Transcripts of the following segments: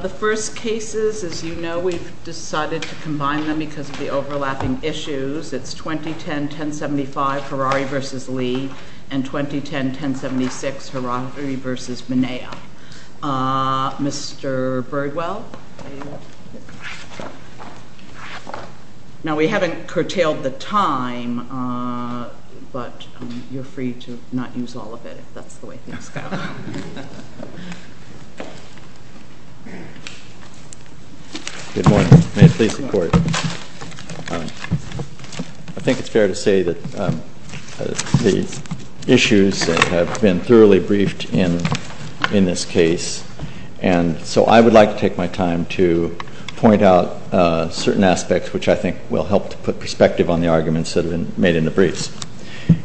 The first cases, as you know, we've decided to combine them because of the overlapping issues. It's 2010-1075, HARARI v. LEE, and 2010-1076, HARARI v. MENEA. Mr. Birdwell? Now, we haven't curtailed the time, but you're free to not use all of it if that's the way things go. Good morning. May it please the Court. I think it's fair to say that the issues have been thoroughly briefed in this case, and so I would like to take my time to point out certain aspects which I think will help to put perspective on the arguments that have been made in the briefs.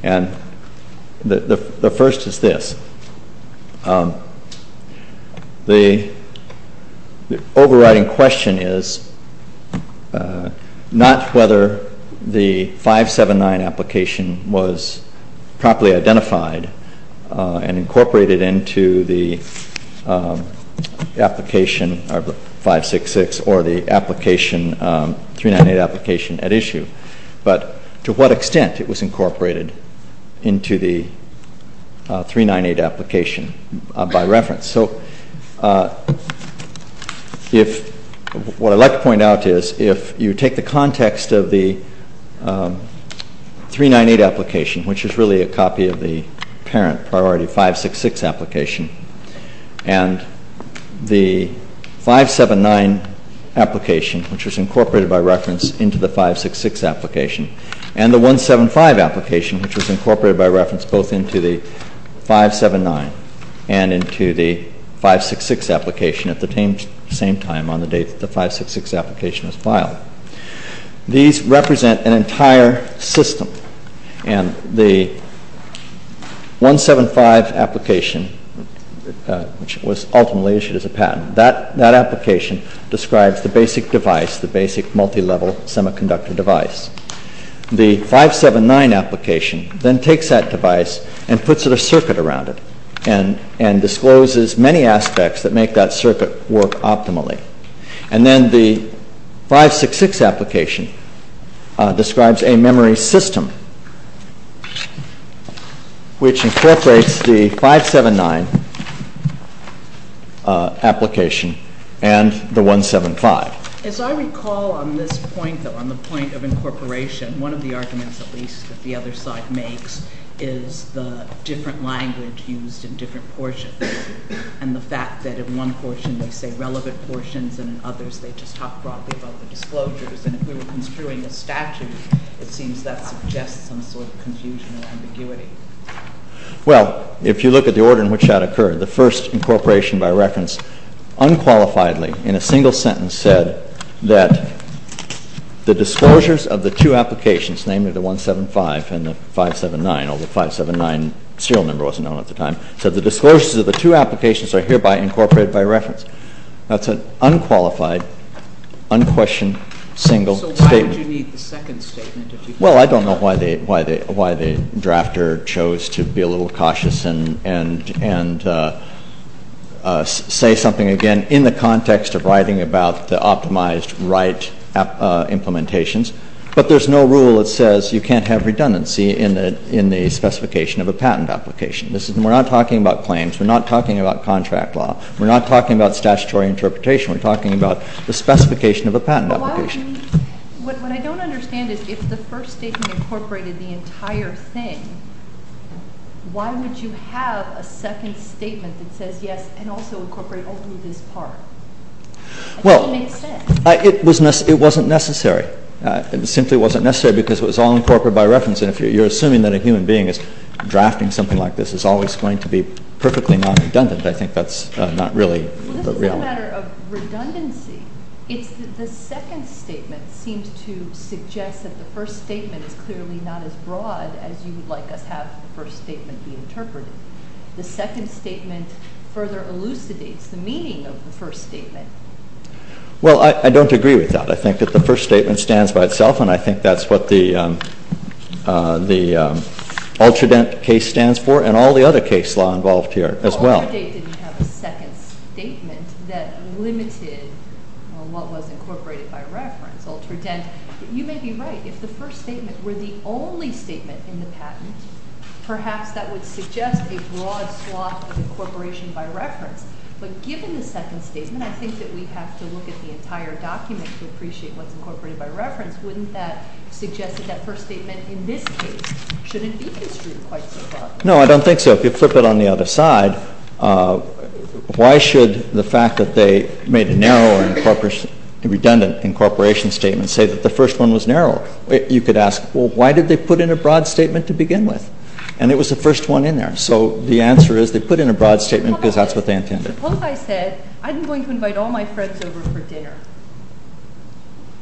And the first is this. The overriding question is not whether the 579 application was properly identified and incorporated into the application, or 566, or the application, 398 application at issue, but to what extent it was incorporated into the 398 application by reference. So what I'd like to point out is if you take the context of the 398 application, which is really a copy of the parent priority 566 application, and the 579 application, which was incorporated by reference into the 566 application, and the 175 application, which was incorporated by reference both into the 579 and into the 566 application at the same time on the date that the 566 application was filed, these represent an entire system. And the 175 application, which was ultimately issued as a patent, that application describes the basic device, the basic multilevel semiconductor device. The 579 application then takes that device and puts a circuit around it and discloses many aspects that make that circuit work optimally. And then the 566 application describes a memory system, which incorporates the 579 application and the 175. As I recall on this point, though, on the point of incorporation, one of the arguments, at least, that the other side makes is the different language used in different portions. And the fact that in one portion they say relevant portions and in others they just talk broadly about the disclosures. And if we were construing a statute, it seems that suggests some sort of confusion or ambiguity. Well, if you look at the order in which that occurred, the first incorporation by reference unqualifiedly in a single sentence said that the disclosures of the two applications, namely the 175 and the 579, the serial number wasn't known at the time, said the disclosures of the two applications are hereby incorporated by reference. That's an unqualified, unquestioned, single statement. So why would you need the second statement? Well, I don't know why the drafter chose to be a little cautious and say something again in the context of writing about the optimized write implementations. But there's no rule that says you can't have redundancy in the specification of a patent application. We're not talking about claims. We're not talking about contract law. We're not talking about statutory interpretation. We're talking about the specification of a patent application. What I don't understand is if the first statement incorporated the entire thing, why would you have a second statement that says yes and also incorporate only this part? Well, it wasn't necessary. It simply wasn't necessary because it was all incorporated by reference. And if you're assuming that a human being is drafting something like this, it's always going to be perfectly non-redundant. I think that's not really the reality. Well, this is not a matter of redundancy. It's that the second statement seems to suggest that the first statement is clearly not as broad as you would like us to have the first statement be interpreted. The second statement further elucidates the meaning of the first statement. Well, I don't agree with that. I think that the first statement stands by itself, and I think that's what the Ultradent case stands for and all the other case law involved here as well. Ultradent didn't have a second statement that limited what was incorporated by reference. Ultradent, you may be right. If the first statement were the only statement in the patent, perhaps that would suggest a broad swath of incorporation by reference. But given the second statement, I think that we have to look at the entire document to appreciate what's incorporated by reference. Wouldn't that suggest that that first statement in this case shouldn't be construed quite so broad? No, I don't think so. If you flip it on the other side, why should the fact that they made a narrow and redundant incorporation statement say that the first one was narrow? You could ask, well, why did they put in a broad statement to begin with? And it was the first one in there. So the answer is they put in a broad statement because that's what they intended. Suppose I said, I'm going to invite all my friends over for dinner.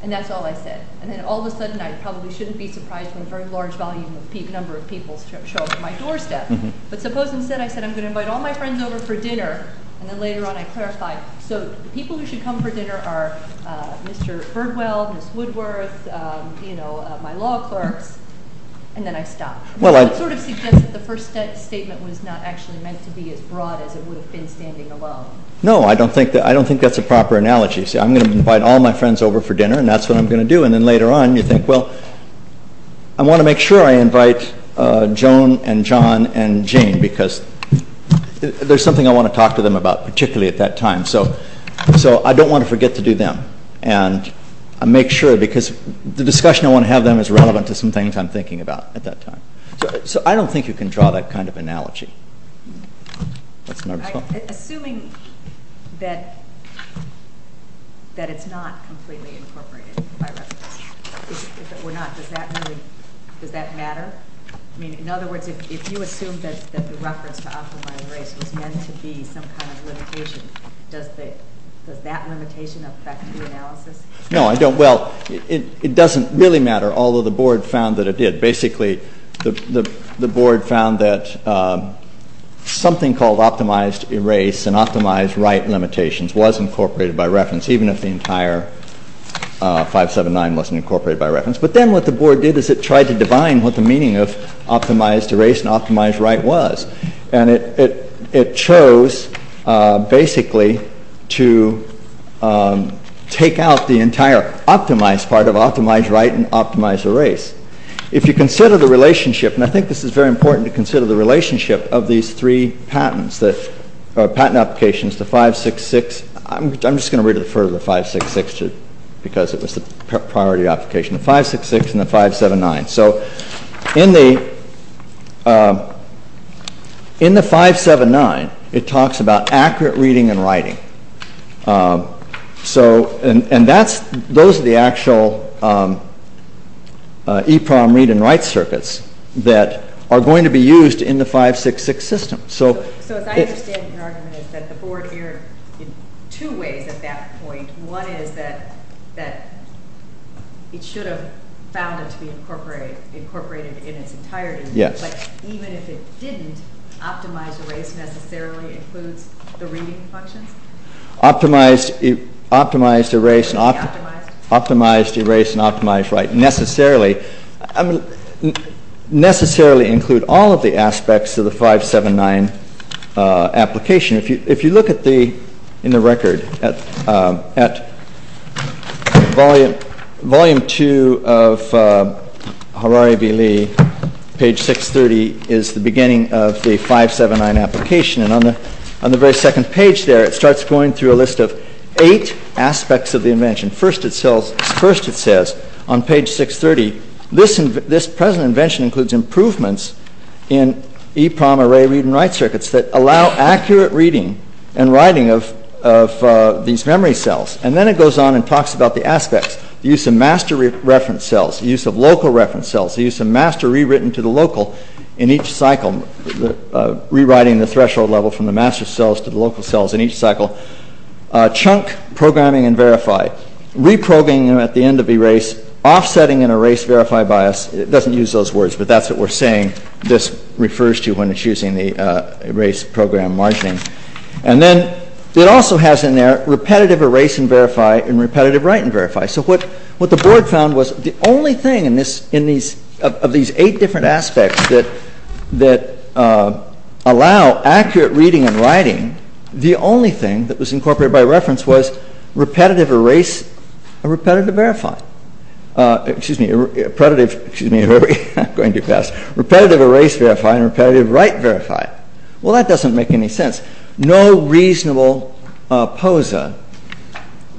And that's all I said. And then all of a sudden, I probably shouldn't be surprised when a very large number of people show up at my doorstep. But suppose instead I said, I'm going to invite all my friends over for dinner, and then later on I clarify. So the people who should come for dinner are Mr. Birdwell, Ms. Woodworth, my law clerks, and then I stop. Well, that sort of suggests that the first statement was not actually meant to be as broad as it would have been standing alone. No, I don't think that's a proper analogy. Say, I'm going to invite all my friends over for dinner, and that's what I'm going to do. And then later on, you think, well, I want to make sure I invite Joan and John and Jane because there's something I want to talk to them about, particularly at that time. So I don't want to forget to do them. And I make sure because the discussion I want to have with them is relevant to some things I'm thinking about at that time. So I don't think you can draw that kind of analogy. Assuming that it's not completely incorporated by reference, if it were not, does that matter? I mean, in other words, if you assume that the reference to optimized erase was meant to be some kind of limitation, does that limitation affect the analysis? No, I don't. Well, it doesn't really matter, although the board found that it did. Basically, the board found that something called optimized erase and optimized write limitations was incorporated by reference, but then what the board did is it tried to divine what the meaning of optimized erase and optimized write was, and it chose, basically, to take out the entire optimized part of optimized write and optimized erase. If you consider the relationship, and I think this is very important to consider the relationship of these three patent applications, I'm just going to refer to the 566 because it was the priority application, the 566 and the 579. So in the 579, it talks about accurate reading and writing, and those are the actual EPROM read and write circuits that are going to be used in the 566 system. So as I understand your argument is that the board erred in two ways at that point. One is that it should have found it to be incorporated in its entirety, but even if it didn't, optimized erase necessarily includes the reading functions? Optimized erase and optimized write necessarily. Necessarily include all of the aspects of the 579 application. If you look in the record at volume two of Harari v. Lee, page 630 is the beginning of the 579 application, and on the very second page there, it starts going through a list of eight aspects of the invention. First it says on page 630, this present invention includes improvements in EPROM array read and write circuits that allow accurate reading and writing of these memory cells, and then it goes on and talks about the aspects, the use of master reference cells, the use of local reference cells, the use of master rewritten to the local in each cycle, rewriting the threshold level from the master cells to the local cells in each cycle, chunk programming and verify, reprogramming at the end of erase, offsetting and erase verify bias. It doesn't use those words, but that's what we're saying this refers to when it's using the erase program margining. And then it also has in there repetitive erase and verify and repetitive write and verify. So what the board found was the only thing of these eight different aspects that allow accurate reading and writing, the only thing that was incorporated by reference was repetitive erase and repetitive verify. Excuse me, repetitive erase verify and repetitive write verify. Well that doesn't make any sense. No reasonable POSA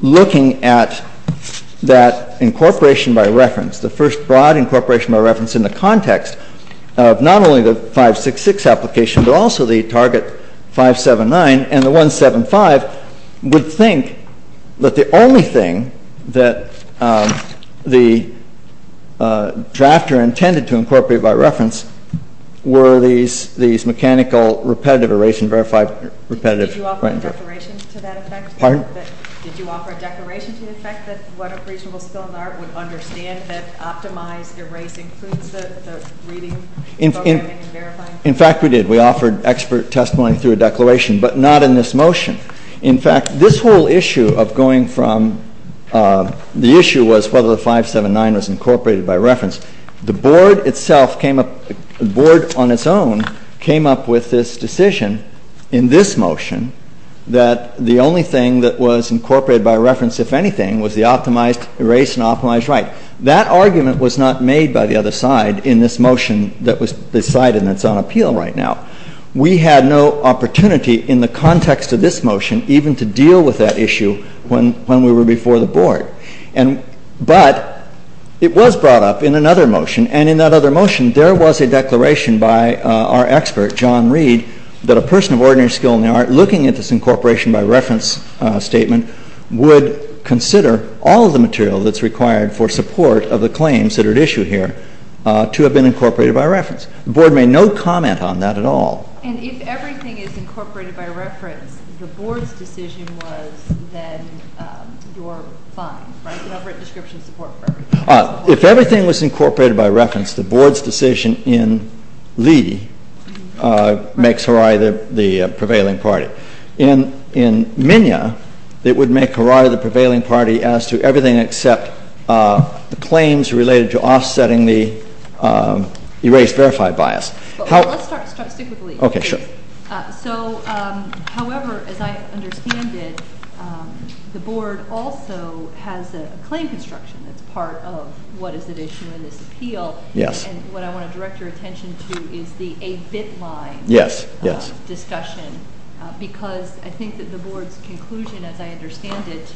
looking at that incorporation by reference, the first broad incorporation by reference in the context of not only the 566 application, but also the target 579 and the 175, would think that the only thing that the drafter intended to incorporate by reference were these mechanical repetitive erase and verify repetitive write and verify. Did you offer a declaration to that effect? Pardon? Did you offer a declaration to the effect that what a reasonable skill in the art would understand that optimized erase includes the reading, programming and verifying? In fact, we did. We offered expert testimony through a declaration, but not in this motion. In fact, this whole issue of going from the issue was whether the 579 was incorporated by reference. The board itself came up, the board on its own, came up with this decision in this motion that the only thing that was incorporated by reference, if anything, was the optimized erase and optimized write. That argument was not made by the other side in this motion that was decided and that's on appeal right now. We had no opportunity in the context of this motion even to deal with that issue when we were before the board. But it was brought up in another motion, and in that other motion, there was a declaration by our expert, John Reed, that a person of ordinary skill in the art looking at this incorporation by reference statement would consider all of the material that's required for support of the claims that are issued here to have been incorporated by reference. The board made no comment on that at all. And if everything is incorporated by reference, the board's decision was that you're fine, right? You have written description of support for everything. If everything was incorporated by reference, the board's decision in Lee makes Harai the prevailing party. In Minya, it would make Harai the prevailing party as to everything except the claims related to offsetting the erased verified bias. Let's start strictly with Lee. Okay, sure. So, however, as I understand it, the board also has a claim construction that's part of what is at issue in this appeal. Yes. And what I want to direct your attention to is the 8-bit line discussion. Because I think that the board's conclusion, as I understand it,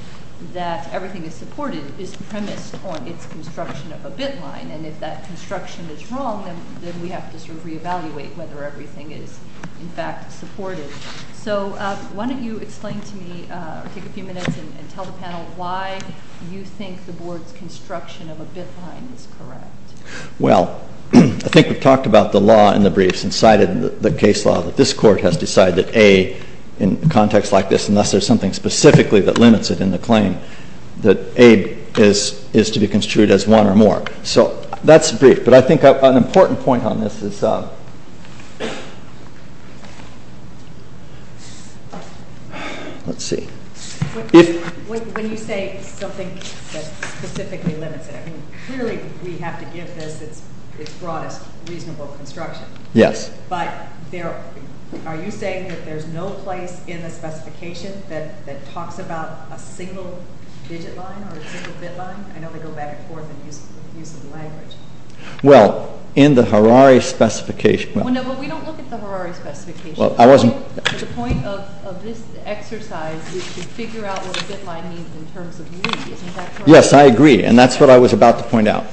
that everything is supported is premised on its construction of a bit line. And if that construction is wrong, then we have to sort of reevaluate whether everything is, in fact, supported. So why don't you explain to me or take a few minutes and tell the panel why you think the board's construction of a bit line is correct. Well, I think we've talked about the law in the briefs and cited the case law that this court has decided that A, in context like this, unless there's something specifically that limits it in the claim, that A is to be construed as one or more. So that's the brief. But I think an important point on this is, let's see. When you say something that specifically limits it, I mean, clearly we have to give this its broadest reasonable construction. Yes. But are you saying that there's no place in the specification that talks about a single digit line or a single bit line? I know they go back and forth in the use of the language. Well, in the Harare specification... No, but we don't look at the Harare specification. The point of this exercise is to figure out what a bit line means in terms of need. Isn't that correct? Yes, I agree, and that's what I was about to point out.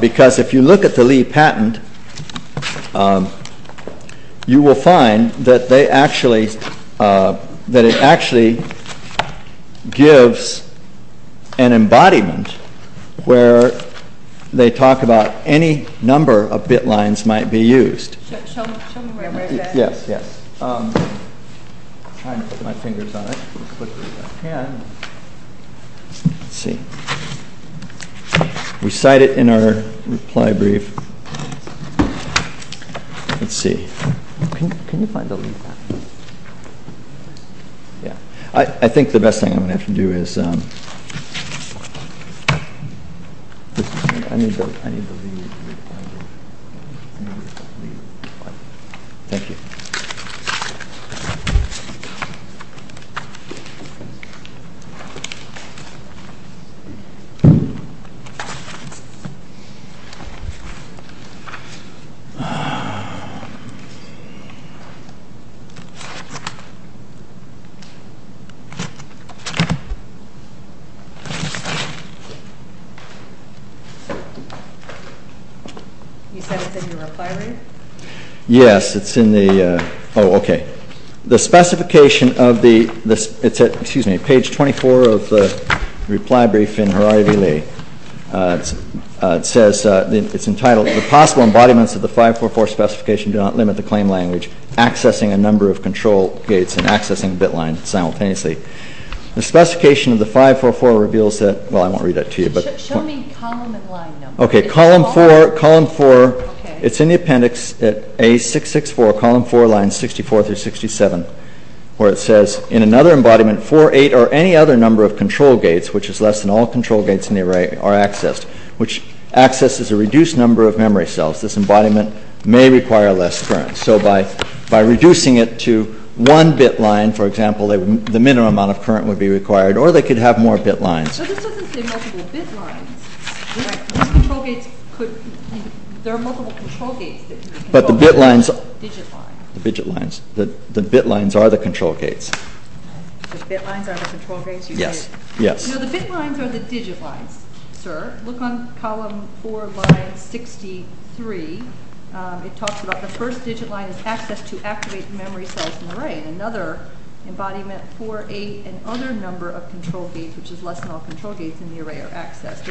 Because if you look at the Lee patent, you will find that it actually gives an embodiment where they talk about any number of bit lines might be used. Show me where it is. Yes. I'm trying to put my fingers on it. Let's see. We cite it in our reply brief. Let's see. Can you find the Lee patent? I think the best thing I'm going to have to do is... I need the Lee... Thank you. You said it's in your reply brief? Yes, it's in the... Oh, okay. The specification of the... It's at, excuse me, page 24 of the reply brief in Harare v. Lee. It says, it's entitled, The possible embodiments of the 544 specification do not limit the claim language, accessing a number of control gates and accessing bit lines simultaneously. The specification of the 544 reveals that... Well, I won't read that to you, but... Show me column and line number. Okay. Column 4. It's in the appendix at A664, column 4, lines 64 through 67, where it says, In another embodiment, 4, 8, or any other number of control gates, which is less than all control gates in the array, are accessed, which accesses a reduced number of memory cells. This embodiment may require less current. So by reducing it to one bit line, for example, the minimum amount of current would be required. Or they could have more bit lines. But this doesn't say multiple bit lines. Control gates could... There are multiple control gates. But the bit lines... The digit lines. The bit lines. The bit lines are the control gates. The bit lines are the control gates? Yes, yes. No, the bit lines are the digit lines, sir. Look on column 4, line 63. It talks about the first digit line is accessed to activate memory cells in the array. In another embodiment, 4, 8, and other number of control gates, which is less than all control gates in the array, are accessed.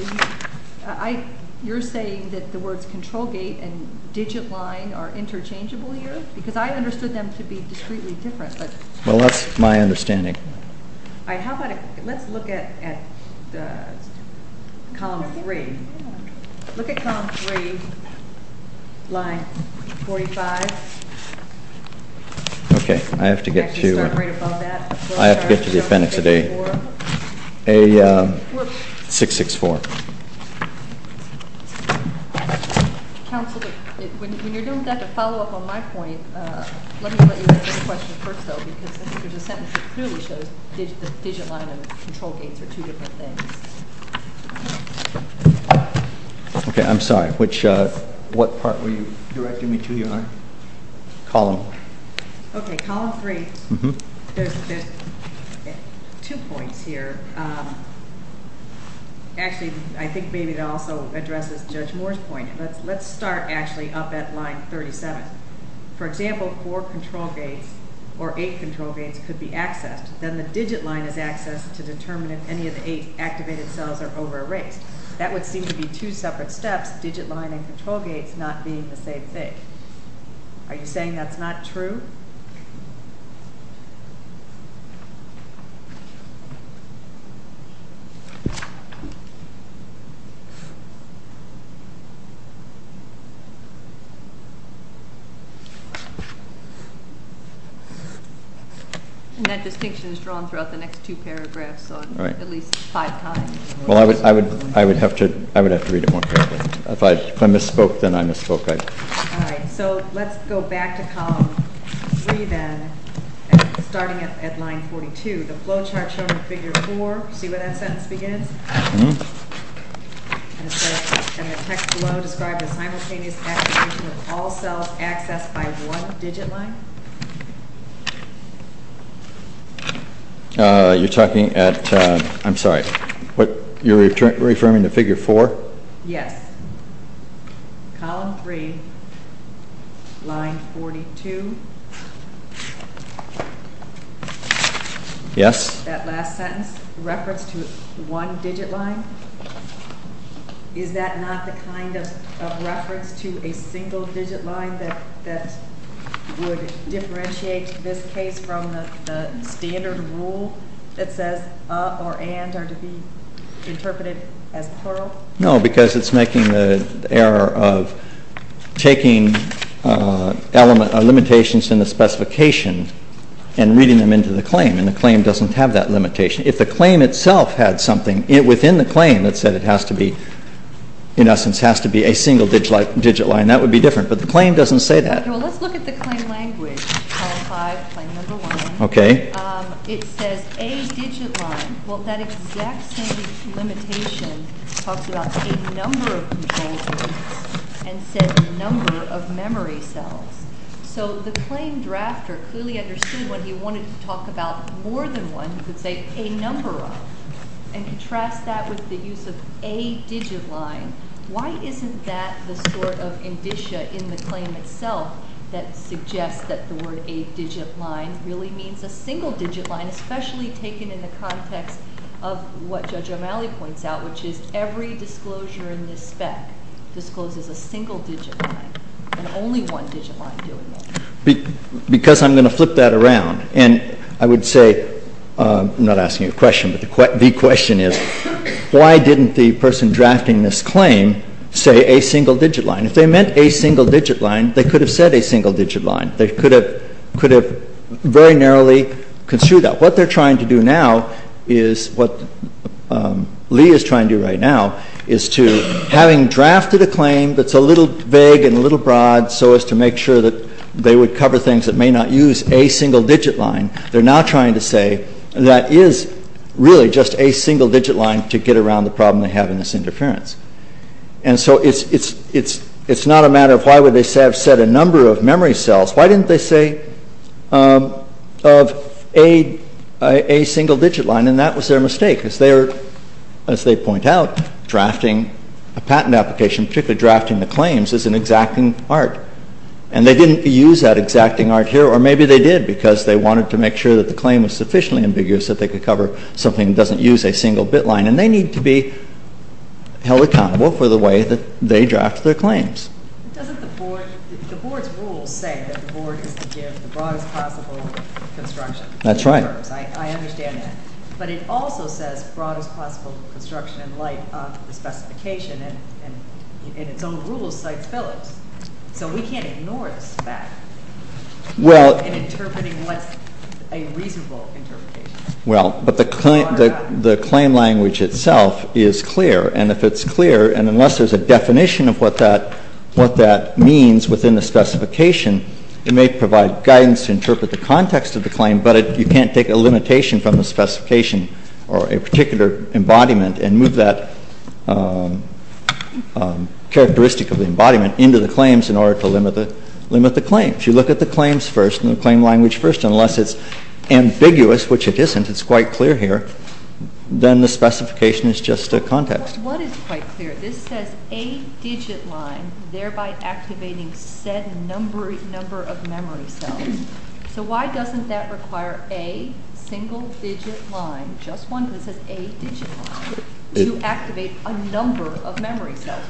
You're saying that the words control gate and digit line are interchangeable here? Because I understood them to be discreetly different, but... Well, that's my understanding. All right, how about... Let's look at column 3. Look at column 3, line 45. Okay. I have to get to... Start right above that. I have to get to the appendix of A664. Counselor, when you're doing that, to follow up on my point, let me let you answer the question first, though. Because I think there's a sentence that clearly shows the digit line and control gates are two different things. Okay, I'm sorry. Which... What part were you directing me to, Your Honor? Column. Okay, column 3. There's two points here. Actually, I think maybe it also addresses Judge Moore's point. Let's start actually up at line 37. For example, four control gates or eight control gates could be accessed. Then the digit line is accessed to determine if any of the eight activated cells are over erased. That would seem to be two separate steps, digit line and control gates not being the same thing. Are you saying that's not true? And that distinction is drawn throughout the next two paragraphs at least five times. Well, I would have to read it more carefully. If I misspoke, then I misspoke. All right, so let's go back to column 3, then, starting at line 42. See where that sentence begins? And the text below describes a simultaneous activation of all cells accessed by one digit line? You're talking at, I'm sorry, you're referring to figure 4? Yes. Column 3, line 42. Yes? That last sentence, reference to one digit line, is that not the kind of reference to a single digit line that would differentiate this case from the standard rule that says a or and are to be interpreted as plural? No, because it's making the error of taking limitations in the specification and reading them into the claim. And the claim doesn't have that limitation. If the claim itself had something within the claim that said it has to be, in essence, has to be a single digit line, that would be different. But the claim doesn't say that. Well, let's look at the claim language, column 5, claim number 1. It says a digit line. Well, that exact same limitation talks about a number of control gates and said a number of memory cells. So the claim drafter clearly understood what he wanted to talk about more than one. He could say a number of and contrast that with the use of a digit line. Why isn't that the sort of indicia in the claim itself that suggests that the word a digit line really means a single digit line, especially taken in the context of what Judge O'Malley points out, which is every disclosure in this spec discloses a single digit line and only one digit line doing it? Because I'm going to flip that around. And I would say, I'm not asking a question, but the question is, why didn't the person drafting this claim say a single digit line? If they meant a single digit line, they could have said a single digit line. They could have very narrowly construed that. What they're trying to do now is, what Lee is trying to do right now, is to, having drafted a claim that's a little vague and a little broad, so as to make sure that they would cover things that may not use a single digit line, they're now trying to say that is really just a single digit line to get around the problem they have in this interference. And so it's not a matter of why would they have said a number of memory cells. Why didn't they say of a single digit line? And that was their mistake. As they point out, drafting a patent application, particularly drafting the claims, is an exacting art. And they didn't use that exacting art here, or maybe they did, because they wanted to make sure that the claim was sufficiently ambiguous that they could cover something that doesn't use a single bit line. And they need to be held accountable for the way that they draft their claims. The board's rules say that the board is to give the broadest possible construction. That's right. I understand that. But it also says broadest possible construction in light of the specification, and in its own rules, cites Phillips. So we can't ignore this fact in interpreting what's a reasonable interpretation. Well, but the claim language itself is clear, and if it's clear, and unless there's a definition of what that means within the specification, it may provide guidance to interpret the context of the claim, but you can't take a limitation from the specification or a particular embodiment and move that characteristic of the embodiment into the claims in order to limit the claims. You look at the claims first and the claim language first, and unless it's ambiguous, which it isn't, it's quite clear here, then the specification is just a context. What is quite clear? This says a digit line, thereby activating said number of memory cells. So why doesn't that require a single-digit line, just one that says a digit line, to activate a number of memory cells?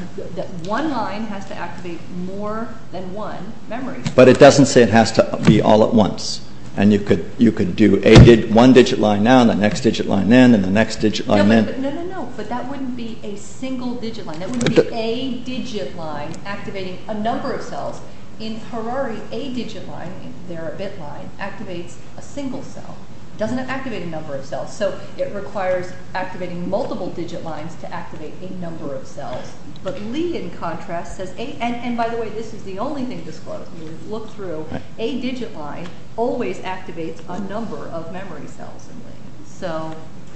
One line has to activate more than one memory cell. But it doesn't say it has to be all at once, and you could do one digit line now and the next digit line then and the next digit line then. No, no, no, but that wouldn't be a single-digit line. That would be a digit line activating a number of cells. In Harari, a digit line, their bit line, activates a single cell. It doesn't activate a number of cells, so it requires activating multiple-digit lines to activate a number of cells. But Lee, in contrast, says, and by the way, this is the only thing disclosed. If you look through, a digit line always activates a number of memory cells in Lee.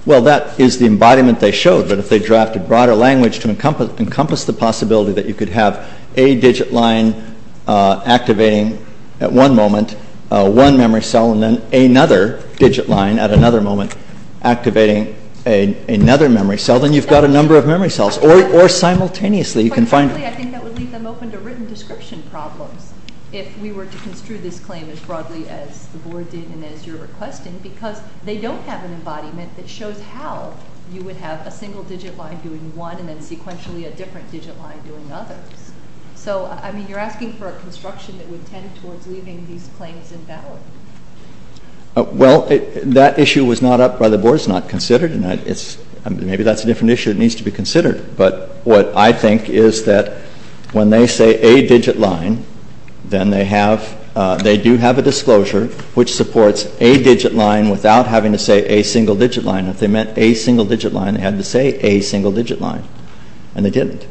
Well, that is the embodiment they showed, but if they drafted broader language to encompass the possibility that you could have a digit line activating, at one moment, one memory cell, and then another digit line, at another moment, activating another memory cell, then you've got a number of memory cells, or simultaneously. I think that would leave them open to written description problems, if we were to construe this claim as broadly as the board did and as you're requesting, because they don't have an embodiment that shows how you would have a single-digit line doing one and then, sequentially, a different digit line doing others. So, I mean, you're asking for a construction that would tend towards leaving these claims invalid. Well, that issue was not up by the board. It's not considered, and maybe that's a different issue that needs to be considered. But what I think is that when they say a digit line, then they do have a disclosure, which supports a digit line without having to say a single-digit line. If they meant a single-digit line, they had to say a single-digit line, and they didn't.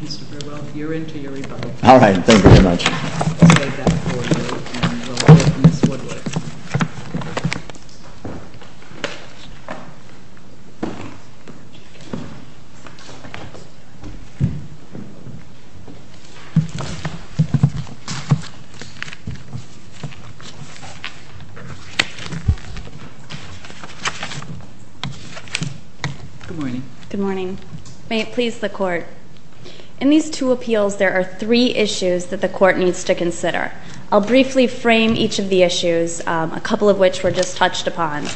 Mr. Verywell, you're in to your rebuttal. I'll take that forward, and we'll go to Ms. Woodward. Good morning. Good morning. May it please the Court. In these two appeals, there are three issues that the Court needs to consider. I'll briefly frame each of the issues, a couple of which were just touched upon,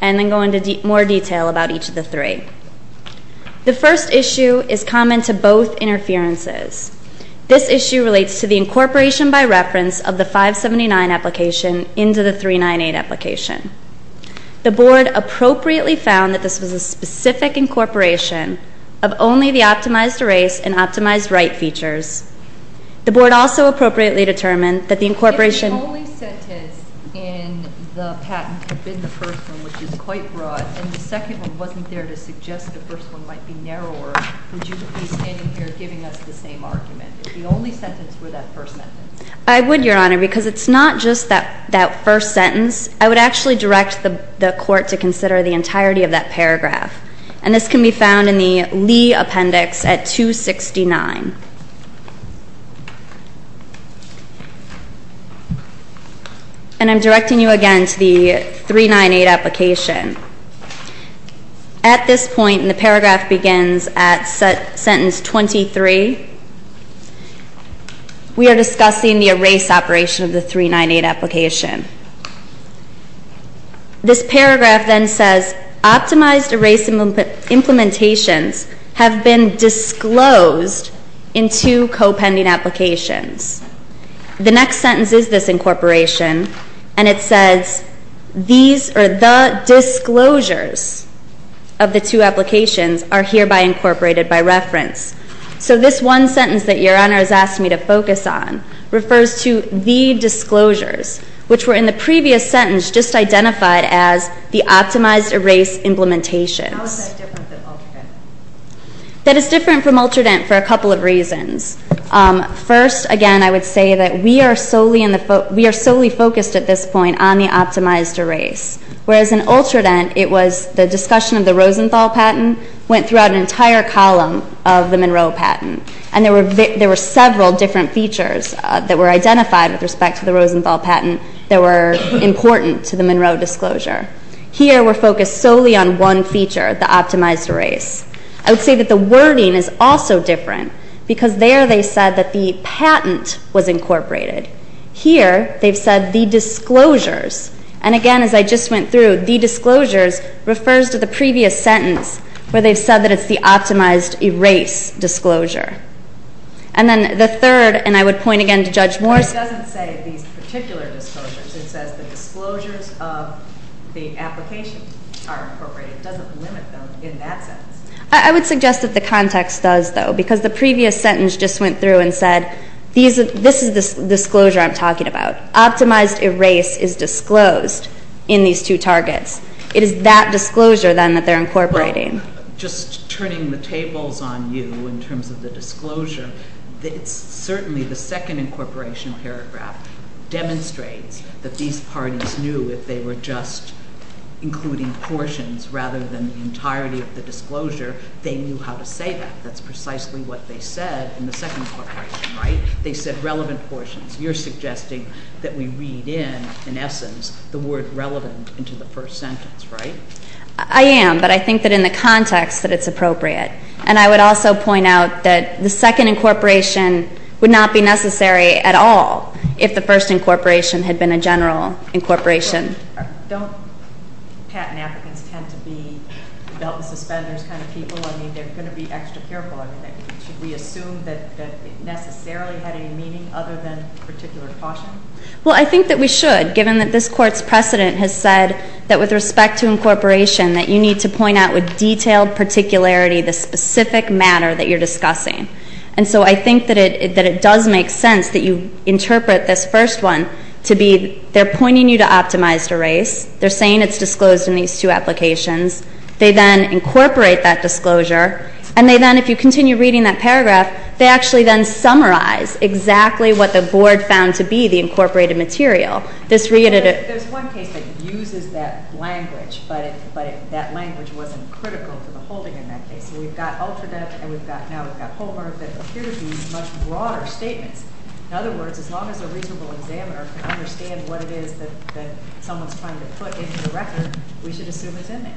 and then go into more detail about each of the three. The first issue is common to both interferences. This issue relates to the incorporation by reference of the 579 application into the 398 application. The Board appropriately found that this was a specific incorporation of only the optimized erase and optimized write features. The Board also appropriately determined that the incorporation If the only sentence in the patent had been the first one, which is quite broad, and the second one wasn't there to suggest the first one might be narrower, would you be standing here giving us the same argument? If the only sentence were that first sentence? I would, Your Honor, because it's not just that first sentence. I would actually direct the Court to consider the entirety of that paragraph, and this can be found in the Lee appendix at 269. And I'm directing you again to the 398 application. At this point, and the paragraph begins at sentence 23, we are discussing the erase operation of the 398 application. This paragraph then says, Optimized erase implementations have been disclosed in two co-pending applications. The next sentence is this incorporation, and it says, The disclosures of the two applications are hereby incorporated by reference. So this one sentence that Your Honor has asked me to focus on refers to the disclosures, which were in the previous sentence just identified as the optimized erase implementations. How is that different than ultradent? That is different from ultradent for a couple of reasons. First, again, I would say that we are solely focused at this point on the optimized erase, whereas in ultradent, it was the discussion of the Rosenthal patent that went throughout an entire column of the Monroe patent, and there were several different features that were identified with respect to the Rosenthal patent that were important to the Monroe disclosure. Here, we're focused solely on one feature, the optimized erase. I would say that the wording is also different, because there they said that the patent was incorporated. Here, they've said the disclosures, and again, as I just went through, the disclosures refers to the previous sentence where they've said that it's the optimized erase disclosure. And then the third, and I would point again to Judge Moore. It doesn't say these particular disclosures. It says the disclosures of the applications are incorporated. It doesn't limit them in that sentence. I would suggest that the context does, though, because the previous sentence just went through and said, this is the disclosure I'm talking about. Optimized erase is disclosed in these two targets. It is that disclosure, then, that they're incorporating. Well, just turning the tables on you in terms of the disclosure, certainly the second incorporation paragraph demonstrates that these parties knew if they were just including portions rather than the entirety of the disclosure, they knew how to say that. That's precisely what they said in the second incorporation, right? They said relevant portions. You're suggesting that we read in, in essence, the word relevant into the first sentence, right? I am, but I think that in the context that it's appropriate. And I would also point out that the second incorporation would not be necessary at all if the first incorporation had been a general incorporation. Don't patent applicants tend to be belt and suspenders kind of people? I mean, they're going to be extra careful. I mean, should we assume that it necessarily had any meaning other than particular caution? Well, I think that we should, given that this Court's precedent has said that with respect to incorporation, that you need to point out with detailed particularity the specific matter that you're discussing. And so I think that it does make sense that you interpret this first one to be they're pointing you to optimized erase. They're saying it's disclosed in these two applications. They then incorporate that disclosure. And they then, if you continue reading that paragraph, they actually then summarize exactly what the Board found to be the incorporated material. There's one case that uses that language, but that language wasn't critical for the holding in that case. So we've got Ultradeft and we've got now we've got Homer that appear to be much broader statements. In other words, as long as a reasonable examiner can understand what it is that someone's trying to put into the record, we should assume it's in there.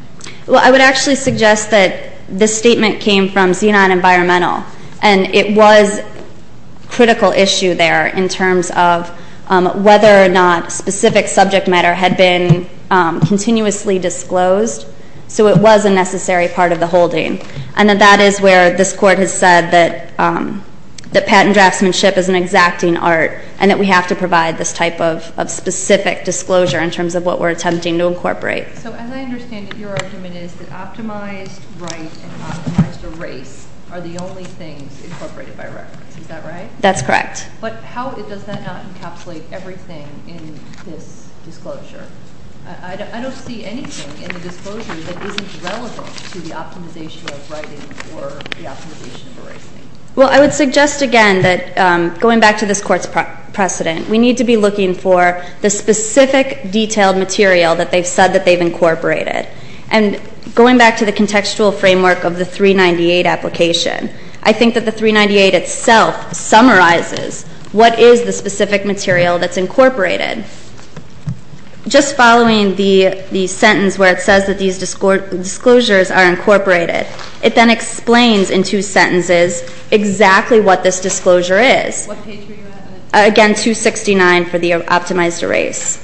Well, I would actually suggest that this statement came from Xenon Environmental. And it was a critical issue there in terms of whether or not specific subject matter had been continuously disclosed. So it was a necessary part of the holding. And that is where this Court has said that patent draftsmanship is an exacting art and that we have to provide this type of specific disclosure in terms of what we're attempting to incorporate. So as I understand it, your argument is that optimized write and optimized erase are the only things incorporated by reference. Is that right? That's correct. But how does that not encapsulate everything in this disclosure? I don't see anything in the disclosure that isn't relevant to the optimization of writing or the optimization of erasing. Well, I would suggest again that going back to this Court's precedent, we need to be looking for the specific detailed material that they've said that they've incorporated. And going back to the contextual framework of the 398 application, I think that the 398 itself summarizes what is the specific material that's incorporated. Just following the sentence where it says that these disclosures are incorporated, it then explains in two sentences exactly what this disclosure is. Again, 269 for the optimized erase.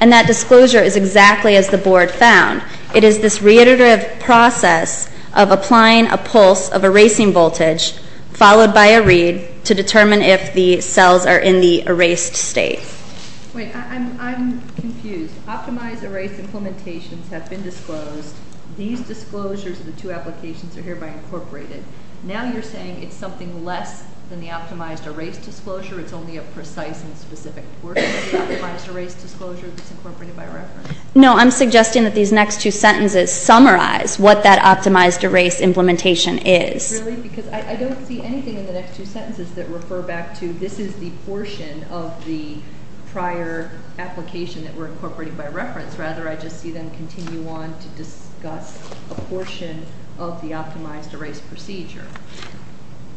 And that disclosure is exactly as the Board found. It is this reiterative process of applying a pulse of erasing voltage followed by a read to determine if the cells are in the erased state. Wait, I'm confused. Optimized erase implementations have been disclosed. These disclosures of the two applications are hereby incorporated. Now you're saying it's something less than the optimized erase disclosure. It's only a precise and specific portion of the optimized erase disclosure that's incorporated by reference. No, I'm suggesting that these next two sentences summarize what that optimized erase implementation is. Really? Because I don't see anything in the next two sentences that refer back to this is the portion of the prior application that we're incorporating by reference. Rather, I just see them continue on to discuss a portion of the optimized erase procedure.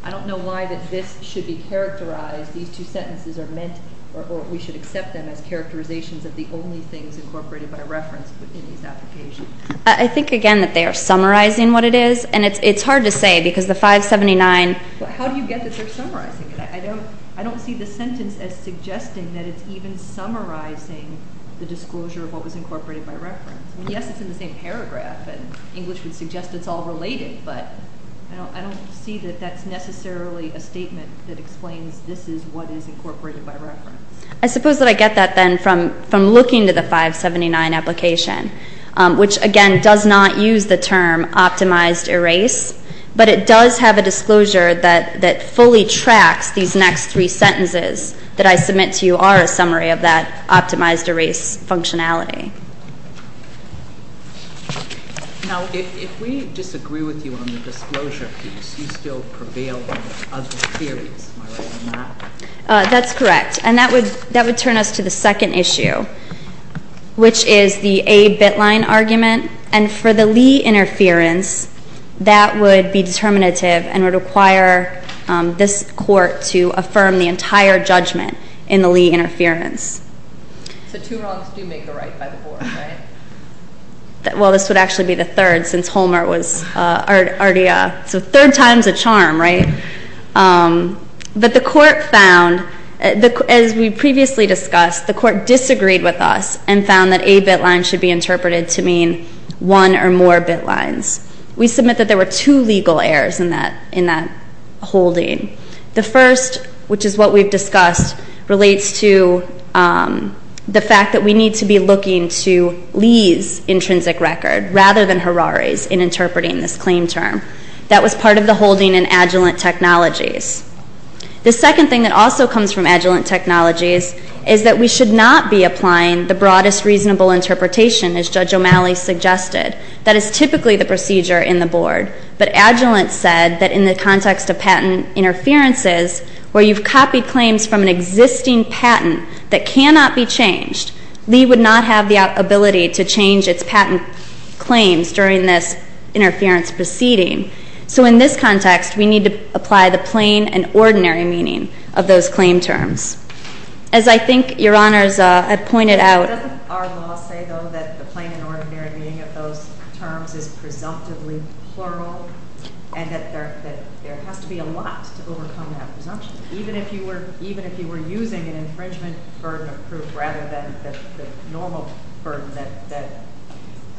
I don't know why that this should be characterized, these two sentences are meant or we should accept them as characterizations of the only things incorporated by reference in these applications. I think, again, that they are summarizing what it is, and it's hard to say because the 579 How do you get that they're summarizing it? I don't see the sentence as suggesting that it's even summarizing the disclosure of what was incorporated by reference. Yes, it's in the same paragraph, and English would suggest it's all related, but I don't see that that's necessarily a statement that explains this is what is incorporated by reference. I suppose that I get that then from looking to the 579 application, which, again, does not use the term optimized erase, but it does have a disclosure that fully tracks these next three sentences that I submit to you are a summary of that optimized erase functionality. Now, if we disagree with you on the disclosure piece, you still prevail on other theories, am I right on that? That's correct, and that would turn us to the second issue, which is the A bit line argument. And for the Lee interference, that would be determinative and would require this court to affirm the entire judgment in the Lee interference. So two wrongs do make the right by the board, right? Well, this would actually be the third since Homer was already a third time's a charm, right? But the court found, as we previously discussed, the court disagreed with us and found that A bit line should be interpreted to mean one or more bit lines. We submit that there were two legal errors in that holding. The first, which is what we've discussed, relates to the fact that we need to be looking to Lee's intrinsic record rather than Harari's in interpreting this claim term. That was part of the holding in Agilent Technologies. The second thing that also comes from Agilent Technologies is that we should not be applying the broadest reasonable interpretation, as Judge O'Malley suggested. That is typically the procedure in the board. But Agilent said that in the context of patent interferences where you've copied claims from an existing patent that cannot be changed, Lee would not have the ability to change its patent claims during this interference proceeding. So in this context, we need to apply the plain and ordinary meaning of those claim terms. As I think Your Honors have pointed out... ...and that there has to be a lot to overcome that presumption, even if you were using an infringement burden of proof rather than the normal burden that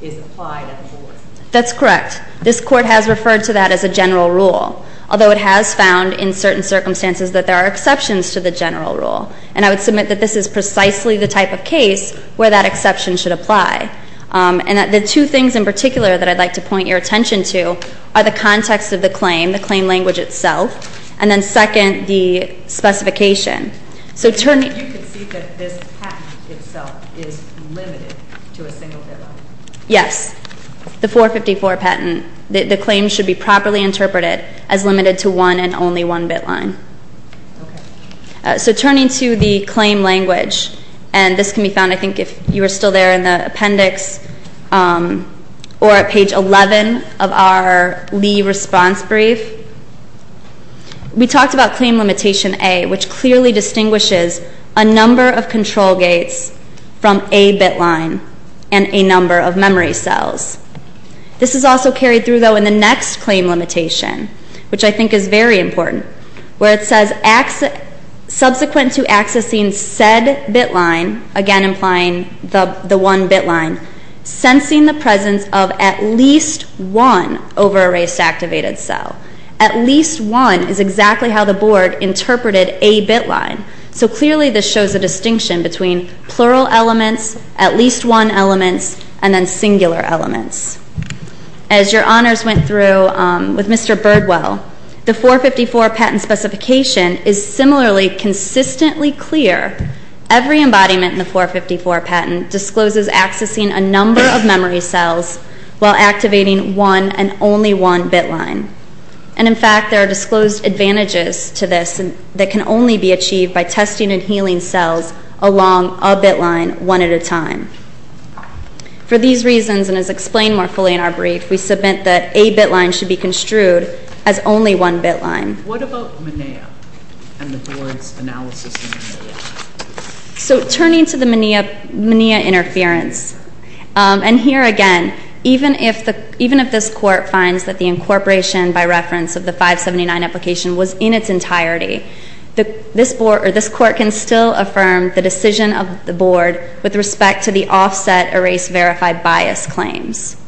is applied at the board. That's correct. This Court has referred to that as a general rule, although it has found in certain circumstances that there are exceptions to the general rule. And I would submit that this is precisely the type of case where that exception should apply. And the two things in particular that I'd like to point your attention to are the context of the claim, the claim language itself, and then second, the specification. So turning... You concede that this patent itself is limited to a single bit line? Yes. The 454 patent, the claim should be properly interpreted as limited to one and only one bit line. Okay. So turning to the claim language, and this can be found, I think, if you were still there in the appendix or at page 11 of our Lee response brief, we talked about Claim Limitation A, which clearly distinguishes a number of control gates from a bit line and a number of memory cells. This is also carried through, though, in the next Claim Limitation, which I think is very important, where it says subsequent to accessing said bit line, again implying the one bit line, sensing the presence of at least one over-erased activated cell. At least one is exactly how the board interpreted a bit line. So clearly this shows a distinction between plural elements, at least one elements, and then singular elements. As your honors went through with Mr. Birdwell, the 454 patent specification is similarly consistently clear. Every embodiment in the 454 patent discloses accessing a number of memory cells while activating one and only one bit line. And, in fact, there are disclosed advantages to this that can only be achieved by testing and healing cells along a bit line one at a time. For these reasons, and as explained more fully in our brief, we submit that a bit line should be construed as only one bit line. What about MENEA and the board's analysis of MENEA? So turning to the MENEA interference, and here again, even if this court finds that the incorporation, by reference of the 579 application, was in its entirety, this court can still affirm the decision of the board with respect to the offset erase verify bias claims.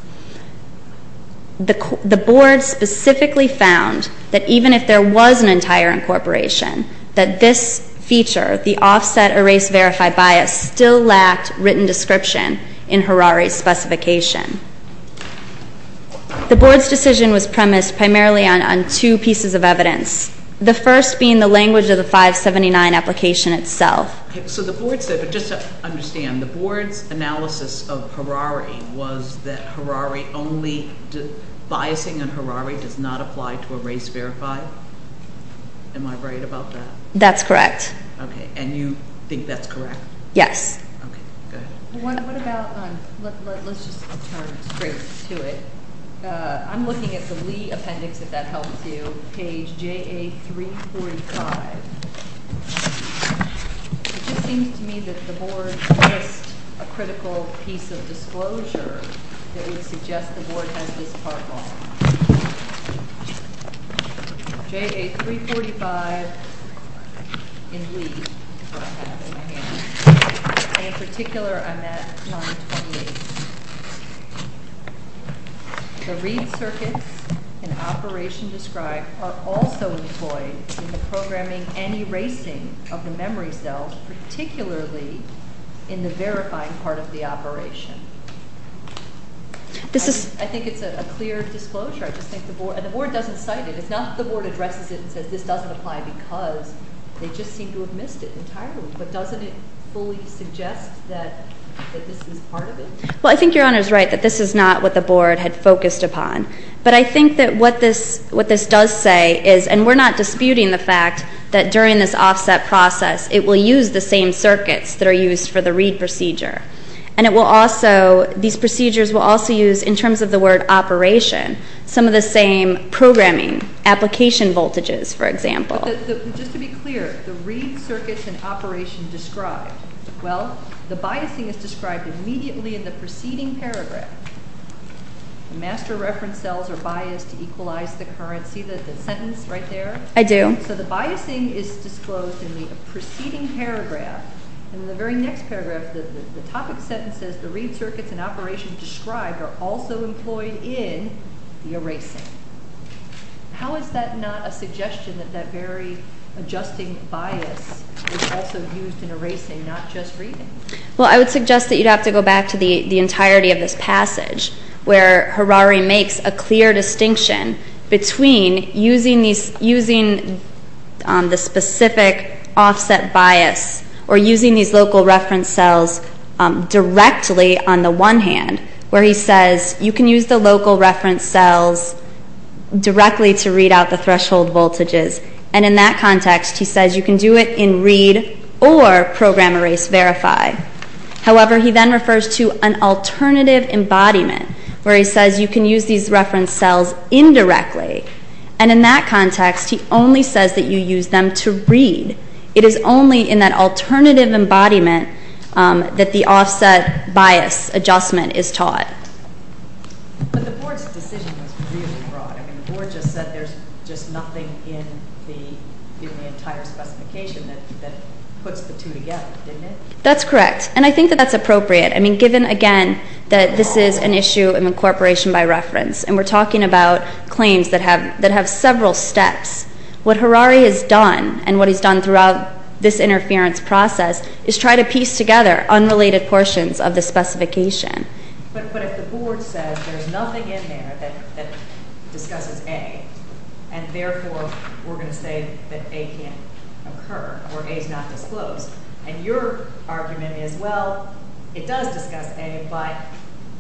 The board specifically found that even if there was an entire incorporation, that this feature, the offset erase verify bias, still lacked written description in Harari's specification. The board's decision was premised primarily on two pieces of evidence, the first being the language of the 579 application itself. So the board said, but just to understand, the board's analysis of Harari was that Harari only, biasing on Harari does not apply to erase verify? Am I right about that? That's correct. Okay, and you think that's correct? Yes. Okay, good. What about, let's just turn straight to it. I'm looking at the Lee appendix, if that helps you. Page JA345. It just seems to me that the board missed a critical piece of disclosure that would suggest the board has this part wrong. JA345 in Lee. In particular, I'm at 928. The read circuits in operation described are also employed in the programming and erasing of the memory cells, particularly in the verifying part of the operation. I think it's a clear disclosure. I just think the board, and the board doesn't cite it. It's not that the board addresses it and says this doesn't apply because they just seem to have missed it entirely. But doesn't it fully suggest that this is part of it? Well, I think Your Honor is right, that this is not what the board had focused upon. But I think that what this does say is, and we're not disputing the fact that during this offset process, it will use the same circuits that are used for the read procedure. And it will also, these procedures will also use, in terms of the word operation, some of the same programming, application voltages, for example. But just to be clear, the read circuits in operation described, well, the biasing is described immediately in the preceding paragraph. The master reference cells are biased to equalize the current. See the sentence right there? I do. So the biasing is disclosed in the preceding paragraph. And in the very next paragraph, the topic sentence says, the read circuits in operation described are also employed in the erasing. How is that not a suggestion that that very adjusting bias is also used in erasing, not just reading? Well, I would suggest that you'd have to go back to the entirety of this passage, where Harari makes a clear distinction between using the specific offset bias or using these local reference cells directly on the one hand, where he says you can use the local reference cells directly to read out the threshold voltages. And in that context, he says you can do it in read or program erase verify. However, he then refers to an alternative embodiment, where he says you can use these reference cells indirectly. And in that context, he only says that you use them to read. It is only in that alternative embodiment that the offset bias adjustment is taught. But the Board's decision was really broad. I mean, the Board just said there's just nothing in the entire specification that puts the two together, didn't it? That's correct. And I think that that's appropriate. I mean, given, again, that this is an issue of incorporation by reference, and we're talking about claims that have several steps, what Harari has done and what he's done throughout this interference process is try to piece together unrelated portions of the specification. But if the Board says there's nothing in there that discusses A, and therefore we're going to say that A can't occur or A's not disclosed, and your argument is, well, it does discuss A, but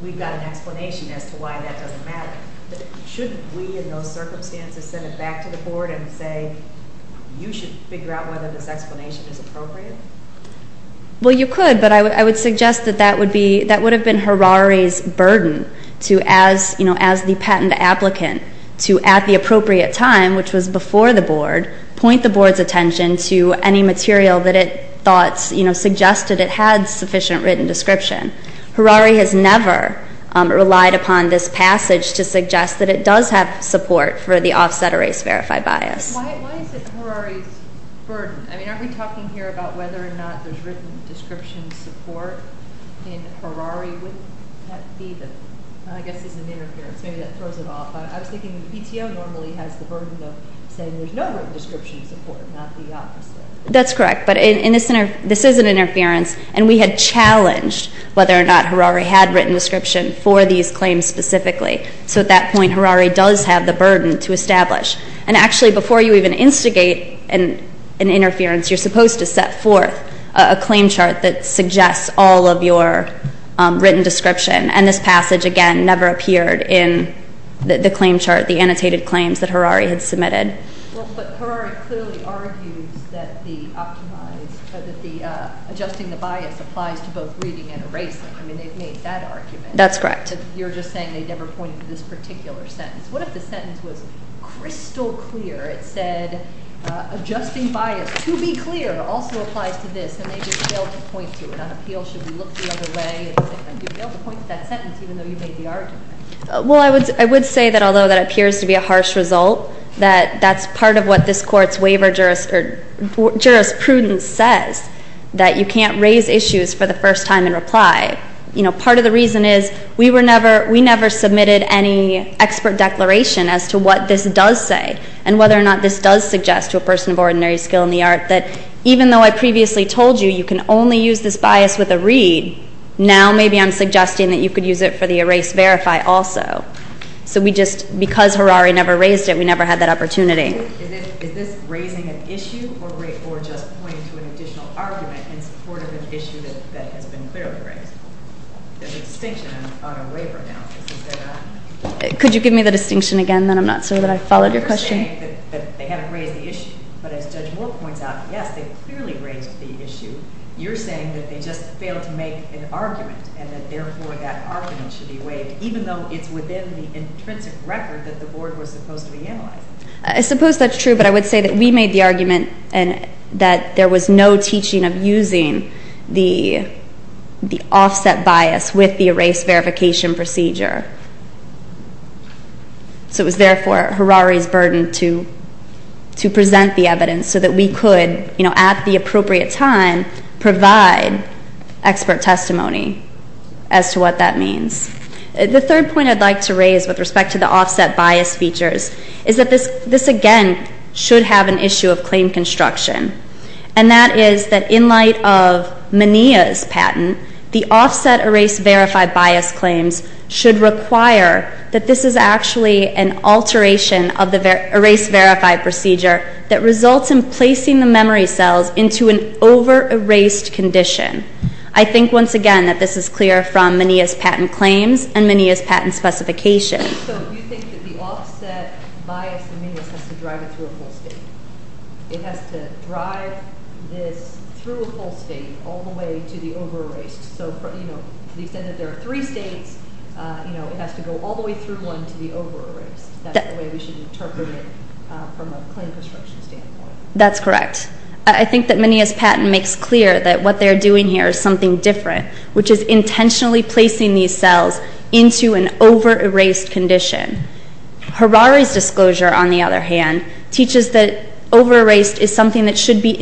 we've got an explanation as to why that doesn't matter, shouldn't we in those circumstances send it back to the Board and say you should figure out whether this explanation is appropriate? Well, you could, but I would suggest that that would have been Harari's burden to, as the patent applicant, to at the appropriate time, which was before the Board, point the Board's attention to any material that it thought suggested it had sufficient written description. Harari has never relied upon this passage to suggest that it does have support for the offset erase verify bias. Why is it Harari's burden? I mean, aren't we talking here about whether or not there's written description support in Harari? I guess it's an interference. Maybe that throws it off. I was thinking PTO normally has the burden of saying there's no written description support, not the opposite. That's correct, but this is an interference, and we had challenged whether or not Harari had written description for these claims specifically. So at that point, Harari does have the burden to establish. And actually, before you even instigate an interference, you're supposed to set forth a claim chart that suggests all of your written description, and this passage, again, never appeared in the claim chart, the annotated claims that Harari had submitted. Well, but Harari clearly argues that the optimized or that the adjusting the bias applies to both reading and erasing. I mean, they've made that argument. That's correct. You're just saying they never pointed to this particular sentence. What if the sentence was crystal clear? It said adjusting bias to be clear also applies to this, and they just failed to point to it. On appeal, should we look the other way? They failed to point to that sentence even though you made the argument. Well, I would say that although that appears to be a harsh result, that that's part of what this Court's waiver jurisprudence says, that you can't raise issues for the first time in reply. You know, part of the reason is we never submitted any expert declaration as to what this does say and whether or not this does suggest to a person of ordinary skill in the art that even though I previously told you you can only use this bias with a read, now maybe I'm suggesting that you could use it for the erase-verify also. So we just, because Harari never raised it, we never had that opportunity. Is this raising an issue or just pointing to an additional argument in support of an issue that has been clearly raised? There's a distinction on a waiver analysis, is there not? Could you give me the distinction again? Then I'm not sure that I followed your question. You're saying that they haven't raised the issue, but as Judge Moore points out, yes, they clearly raised the issue. You're saying that they just failed to make an argument and that therefore that argument should be waived, even though it's within the intrinsic record that the Board was supposed to be analyzing. I suppose that's true, but I would say that we made the argument that there was no teaching of using the offset bias with the erase-verification procedure. So it was therefore Harari's burden to present the evidence so that we could, at the appropriate time, provide expert testimony as to what that means. The third point I'd like to raise with respect to the offset bias features is that this again should have an issue of claim construction, and that is that in light of Menea's patent, the offset erase-verify bias claims should require that this is actually an alteration of the erase-verify procedure that results in placing the memory cells into an over-erased condition. I think, once again, that this is clear from Menea's patent claims and Menea's patent specifications. So you think that the offset bias in Menea's has to drive it through a whole state. It has to drive this through a whole state all the way to the over-erased. So, you know, you said that there are three states. You know, it has to go all the way through one to the over-erased. That's the way we should interpret it from a claim construction standpoint. That's correct. I think that Menea's patent makes clear that what they're doing here is something different, which is intentionally placing these cells into an over-erased condition. Harari's disclosure, on the other hand, teaches that over-erased is something that should be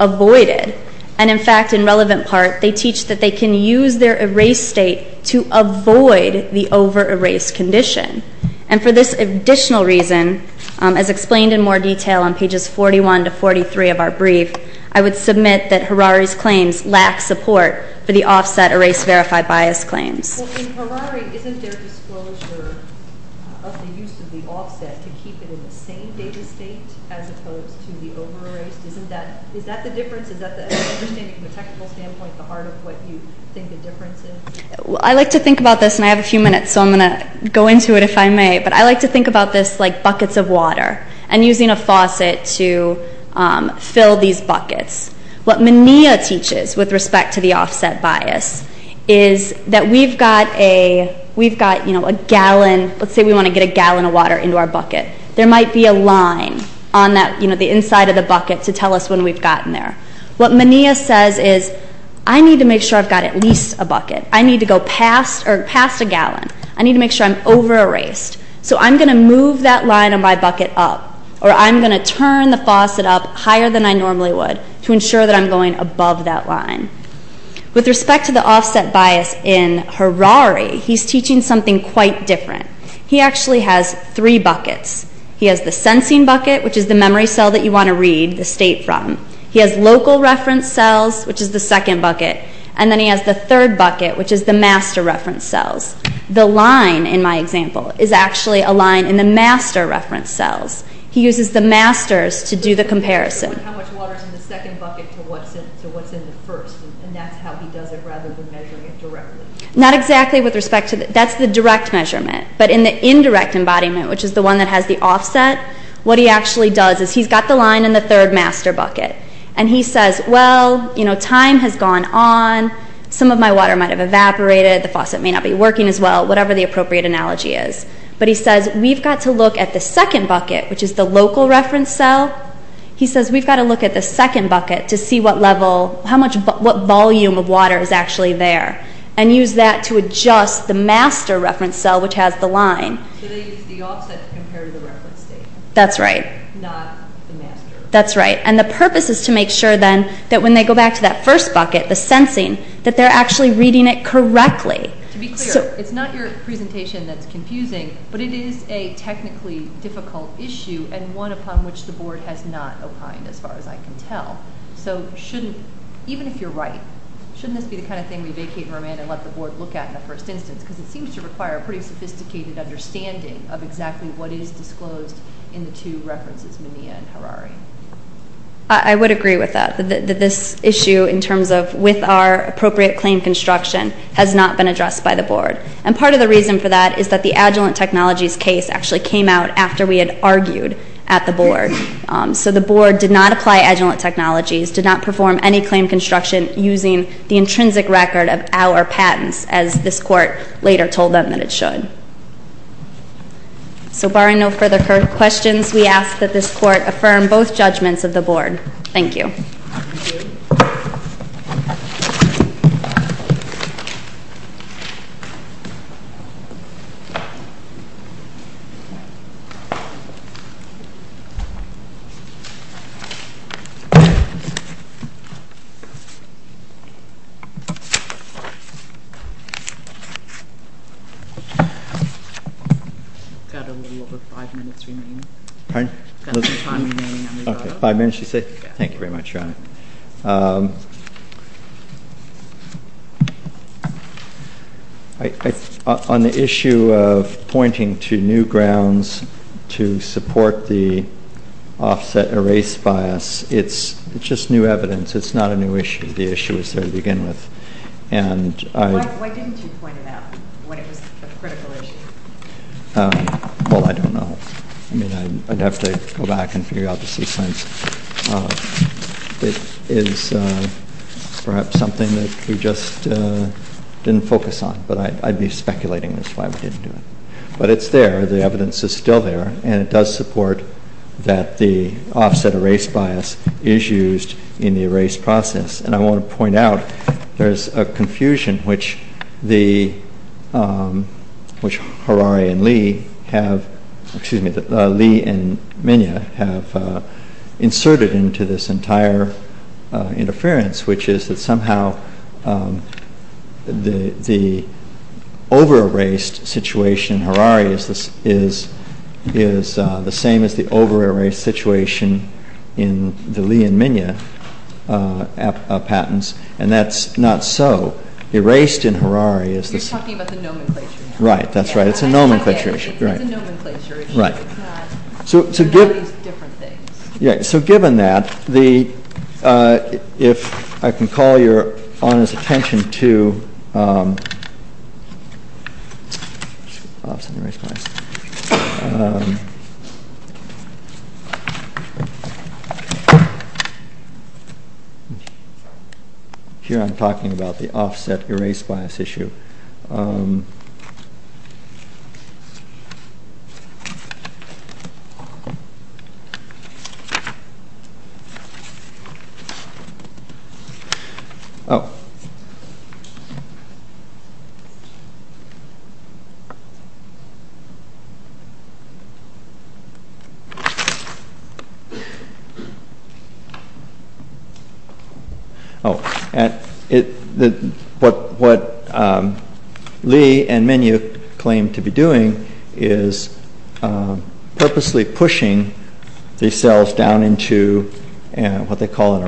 avoided. And, in fact, in relevant part, they teach that they can use their erase state to avoid the over-erased condition. And for this additional reason, as explained in more detail on pages 41 to 43 of our brief, I would submit that Harari's claims lack support for the offset erase verify bias claims. Well, in Harari, isn't their disclosure of the use of the offset to keep it in the same data state as opposed to the over-erased? Isn't that the difference? Is that the understanding from a technical standpoint the heart of what you think the difference is? I like to think about this, and I have a few minutes, so I'm going to go into it if I may. But I like to think about this like buckets of water and using a faucet to fill these buckets. What Menea teaches with respect to the offset bias is that we've got a gallon. Let's say we want to get a gallon of water into our bucket. There might be a line on the inside of the bucket to tell us when we've gotten there. What Menea says is, I need to make sure I've got at least a bucket. I need to go past a gallon. I need to make sure I'm over-erased. So I'm going to move that line on my bucket up. Or I'm going to turn the faucet up higher than I normally would to ensure that I'm going above that line. With respect to the offset bias in Harari, he's teaching something quite different. He actually has three buckets. He has the sensing bucket, which is the memory cell that you want to read the state from. He has local reference cells, which is the second bucket. And then he has the third bucket, which is the master reference cells. The line, in my example, is actually a line in the master reference cells. He uses the masters to do the comparison. How much water is in the second bucket to what's in the first? And that's how he does it rather than measuring it directly? Not exactly with respect to that. That's the direct measurement. But in the indirect embodiment, which is the one that has the offset, what he actually does is he's got the line in the third master bucket. And he says, well, time has gone on. Some of my water might have evaporated. The faucet may not be working as well, whatever the appropriate analogy is. But he says, we've got to look at the second bucket, which is the local reference cell. He says, we've got to look at the second bucket to see what level, how much, what volume of water is actually there. And use that to adjust the master reference cell, which has the line. So they use the offset to compare to the reference state. That's right. Not the master. That's right. And the purpose is to make sure then that when they go back to that first bucket, the sensing, that they're actually reading it correctly. To be clear, it's not your presentation that's confusing, but it is a technically difficult issue and one upon which the board has not opined as far as I can tell. So shouldn't, even if you're right, shouldn't this be the kind of thing we vacate and remain and let the board look at in the first instance? Because it seems to require a pretty sophisticated understanding of exactly what is disclosed in the two references, Menea and Harari. I would agree with that. This issue in terms of with our appropriate claim construction has not been addressed by the board. And part of the reason for that is that the Agilent Technologies case actually came out after we had argued at the board. So the board did not apply Agilent Technologies, did not perform any claim construction using the intrinsic record of our patents, as this court later told them that it should. So barring no further questions, we ask that this court affirm both judgments of the board. Thank you. I've got a little over five minutes remaining. Pardon? I've got some time remaining on this item. Okay, five minutes you say? Yeah. Thank you very much, Your Honor. On the issue of pointing to new grounds to support the offset erase bias, it's just new evidence. It's not a new issue. The issue was there to begin with. Why didn't you point it out when it was a critical issue? Well, I don't know. I mean, I'd have to go back and figure out the sequence. It is perhaps something that we just didn't focus on, but I'd be speculating as to why we didn't do it. But it's there. The evidence is still there, and it does support that the offset erase bias is used in the erase process. And I want to point out there is a confusion which Harari and Lee have, excuse me, Lee and Minya have inserted into this entire interference, which is that somehow the over-erased situation in Harari is the same as the And that's not so. Erased in Harari is the same. You're talking about the nomenclature. Right. That's right. It's a nomenclature issue. It's a nomenclature issue. Right. It's not these different things. Yeah. So given that, if I can call your honest attention to Here I'm talking about the offset erase bias issue. Oh. What Lee and Minya claim to be doing is purposely pushing these cells down into what they call an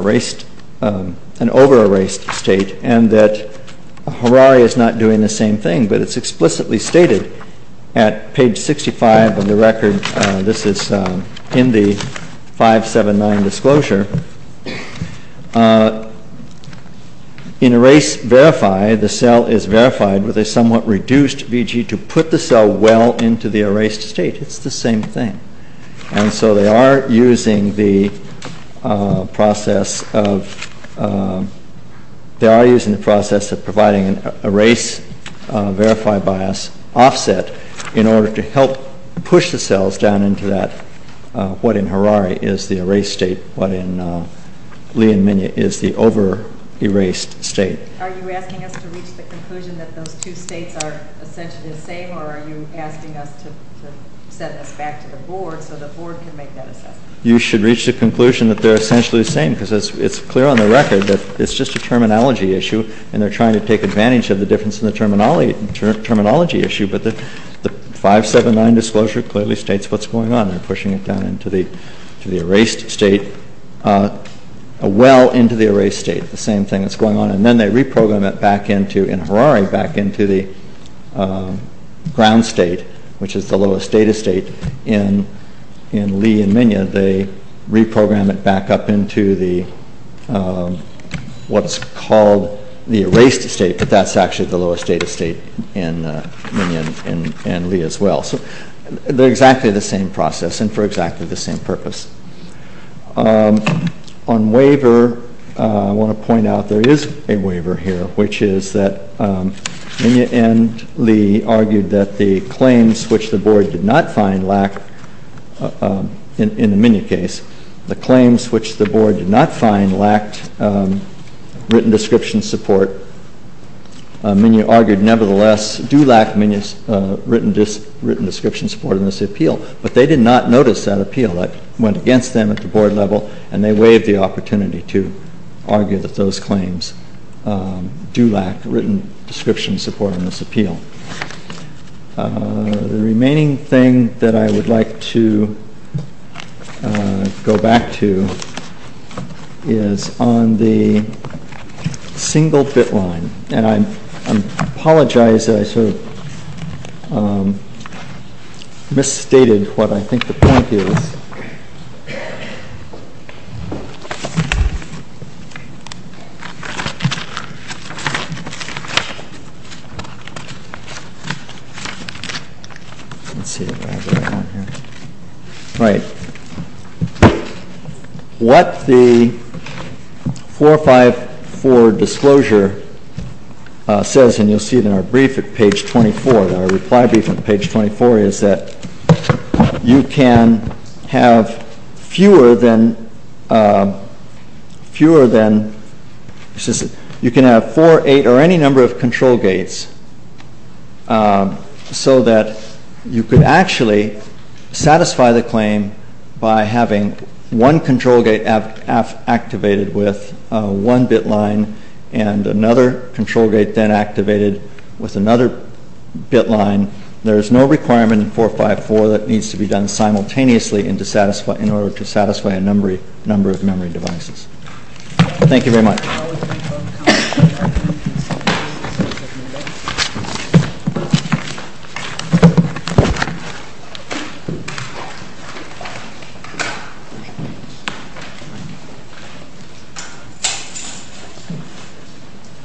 over-erased state, and that Harari is not doing the same thing, but it's explicitly stated at page 65 of the record. This is in the 579 disclosure. In erase verify, the cell is verified with a somewhat reduced VG to put the cell well into the erased state. It's the same thing. And so they are using the process of providing an erase verify bias offset in order to help push the cells down into what in Harari is the erased state, what in Lee and Minya is the over-erased state. Are you asking us to reach the conclusion that those two states are essentially the same, or are you asking us to send this back to the board so the board can make that assessment? You should reach the conclusion that they're essentially the same because it's clear on the record that it's just a terminology issue, and they're trying to take advantage of the difference in the terminology issue, but the 579 disclosure clearly states what's going on. They're pushing it down into the erased state, a well into the erased state, the same thing that's going on. And then they reprogram it back into, in Harari, back into the ground state, which is the lowest data state in Lee and Minya. They reprogram it back up into what's called the erased state, but that's actually the lowest data state in Minya and Lee as well. So they're exactly the same process and for exactly the same purpose. On waiver, I want to point out there is a waiver here, which is that Minya and Lee argued that the claims which the board did not find lack, in the Minya case, the claims which the board did not find lacked written description support. Minya argued nevertheless do lack written description support in this appeal, but they did not notice that appeal. That went against them at the board level, and they waived the opportunity to argue that those claims do lack written description support in this appeal. The remaining thing that I would like to go back to is on the single bit line, and I apologize that I sort of misstated what I think the point is. Let's see if I have it on here. All right. What the 454 disclosure says, and you'll see it in our brief at page 24, in our reply brief at page 24, is that you can have fewer than, you can have four, eight, or any number of control gates, so that you could actually satisfy the claim by having one control gate activated with one bit line and another control gate then activated with another bit line. There is no requirement in 454 that needs to be done simultaneously in order to satisfy a number of memory devices. Thank you very much.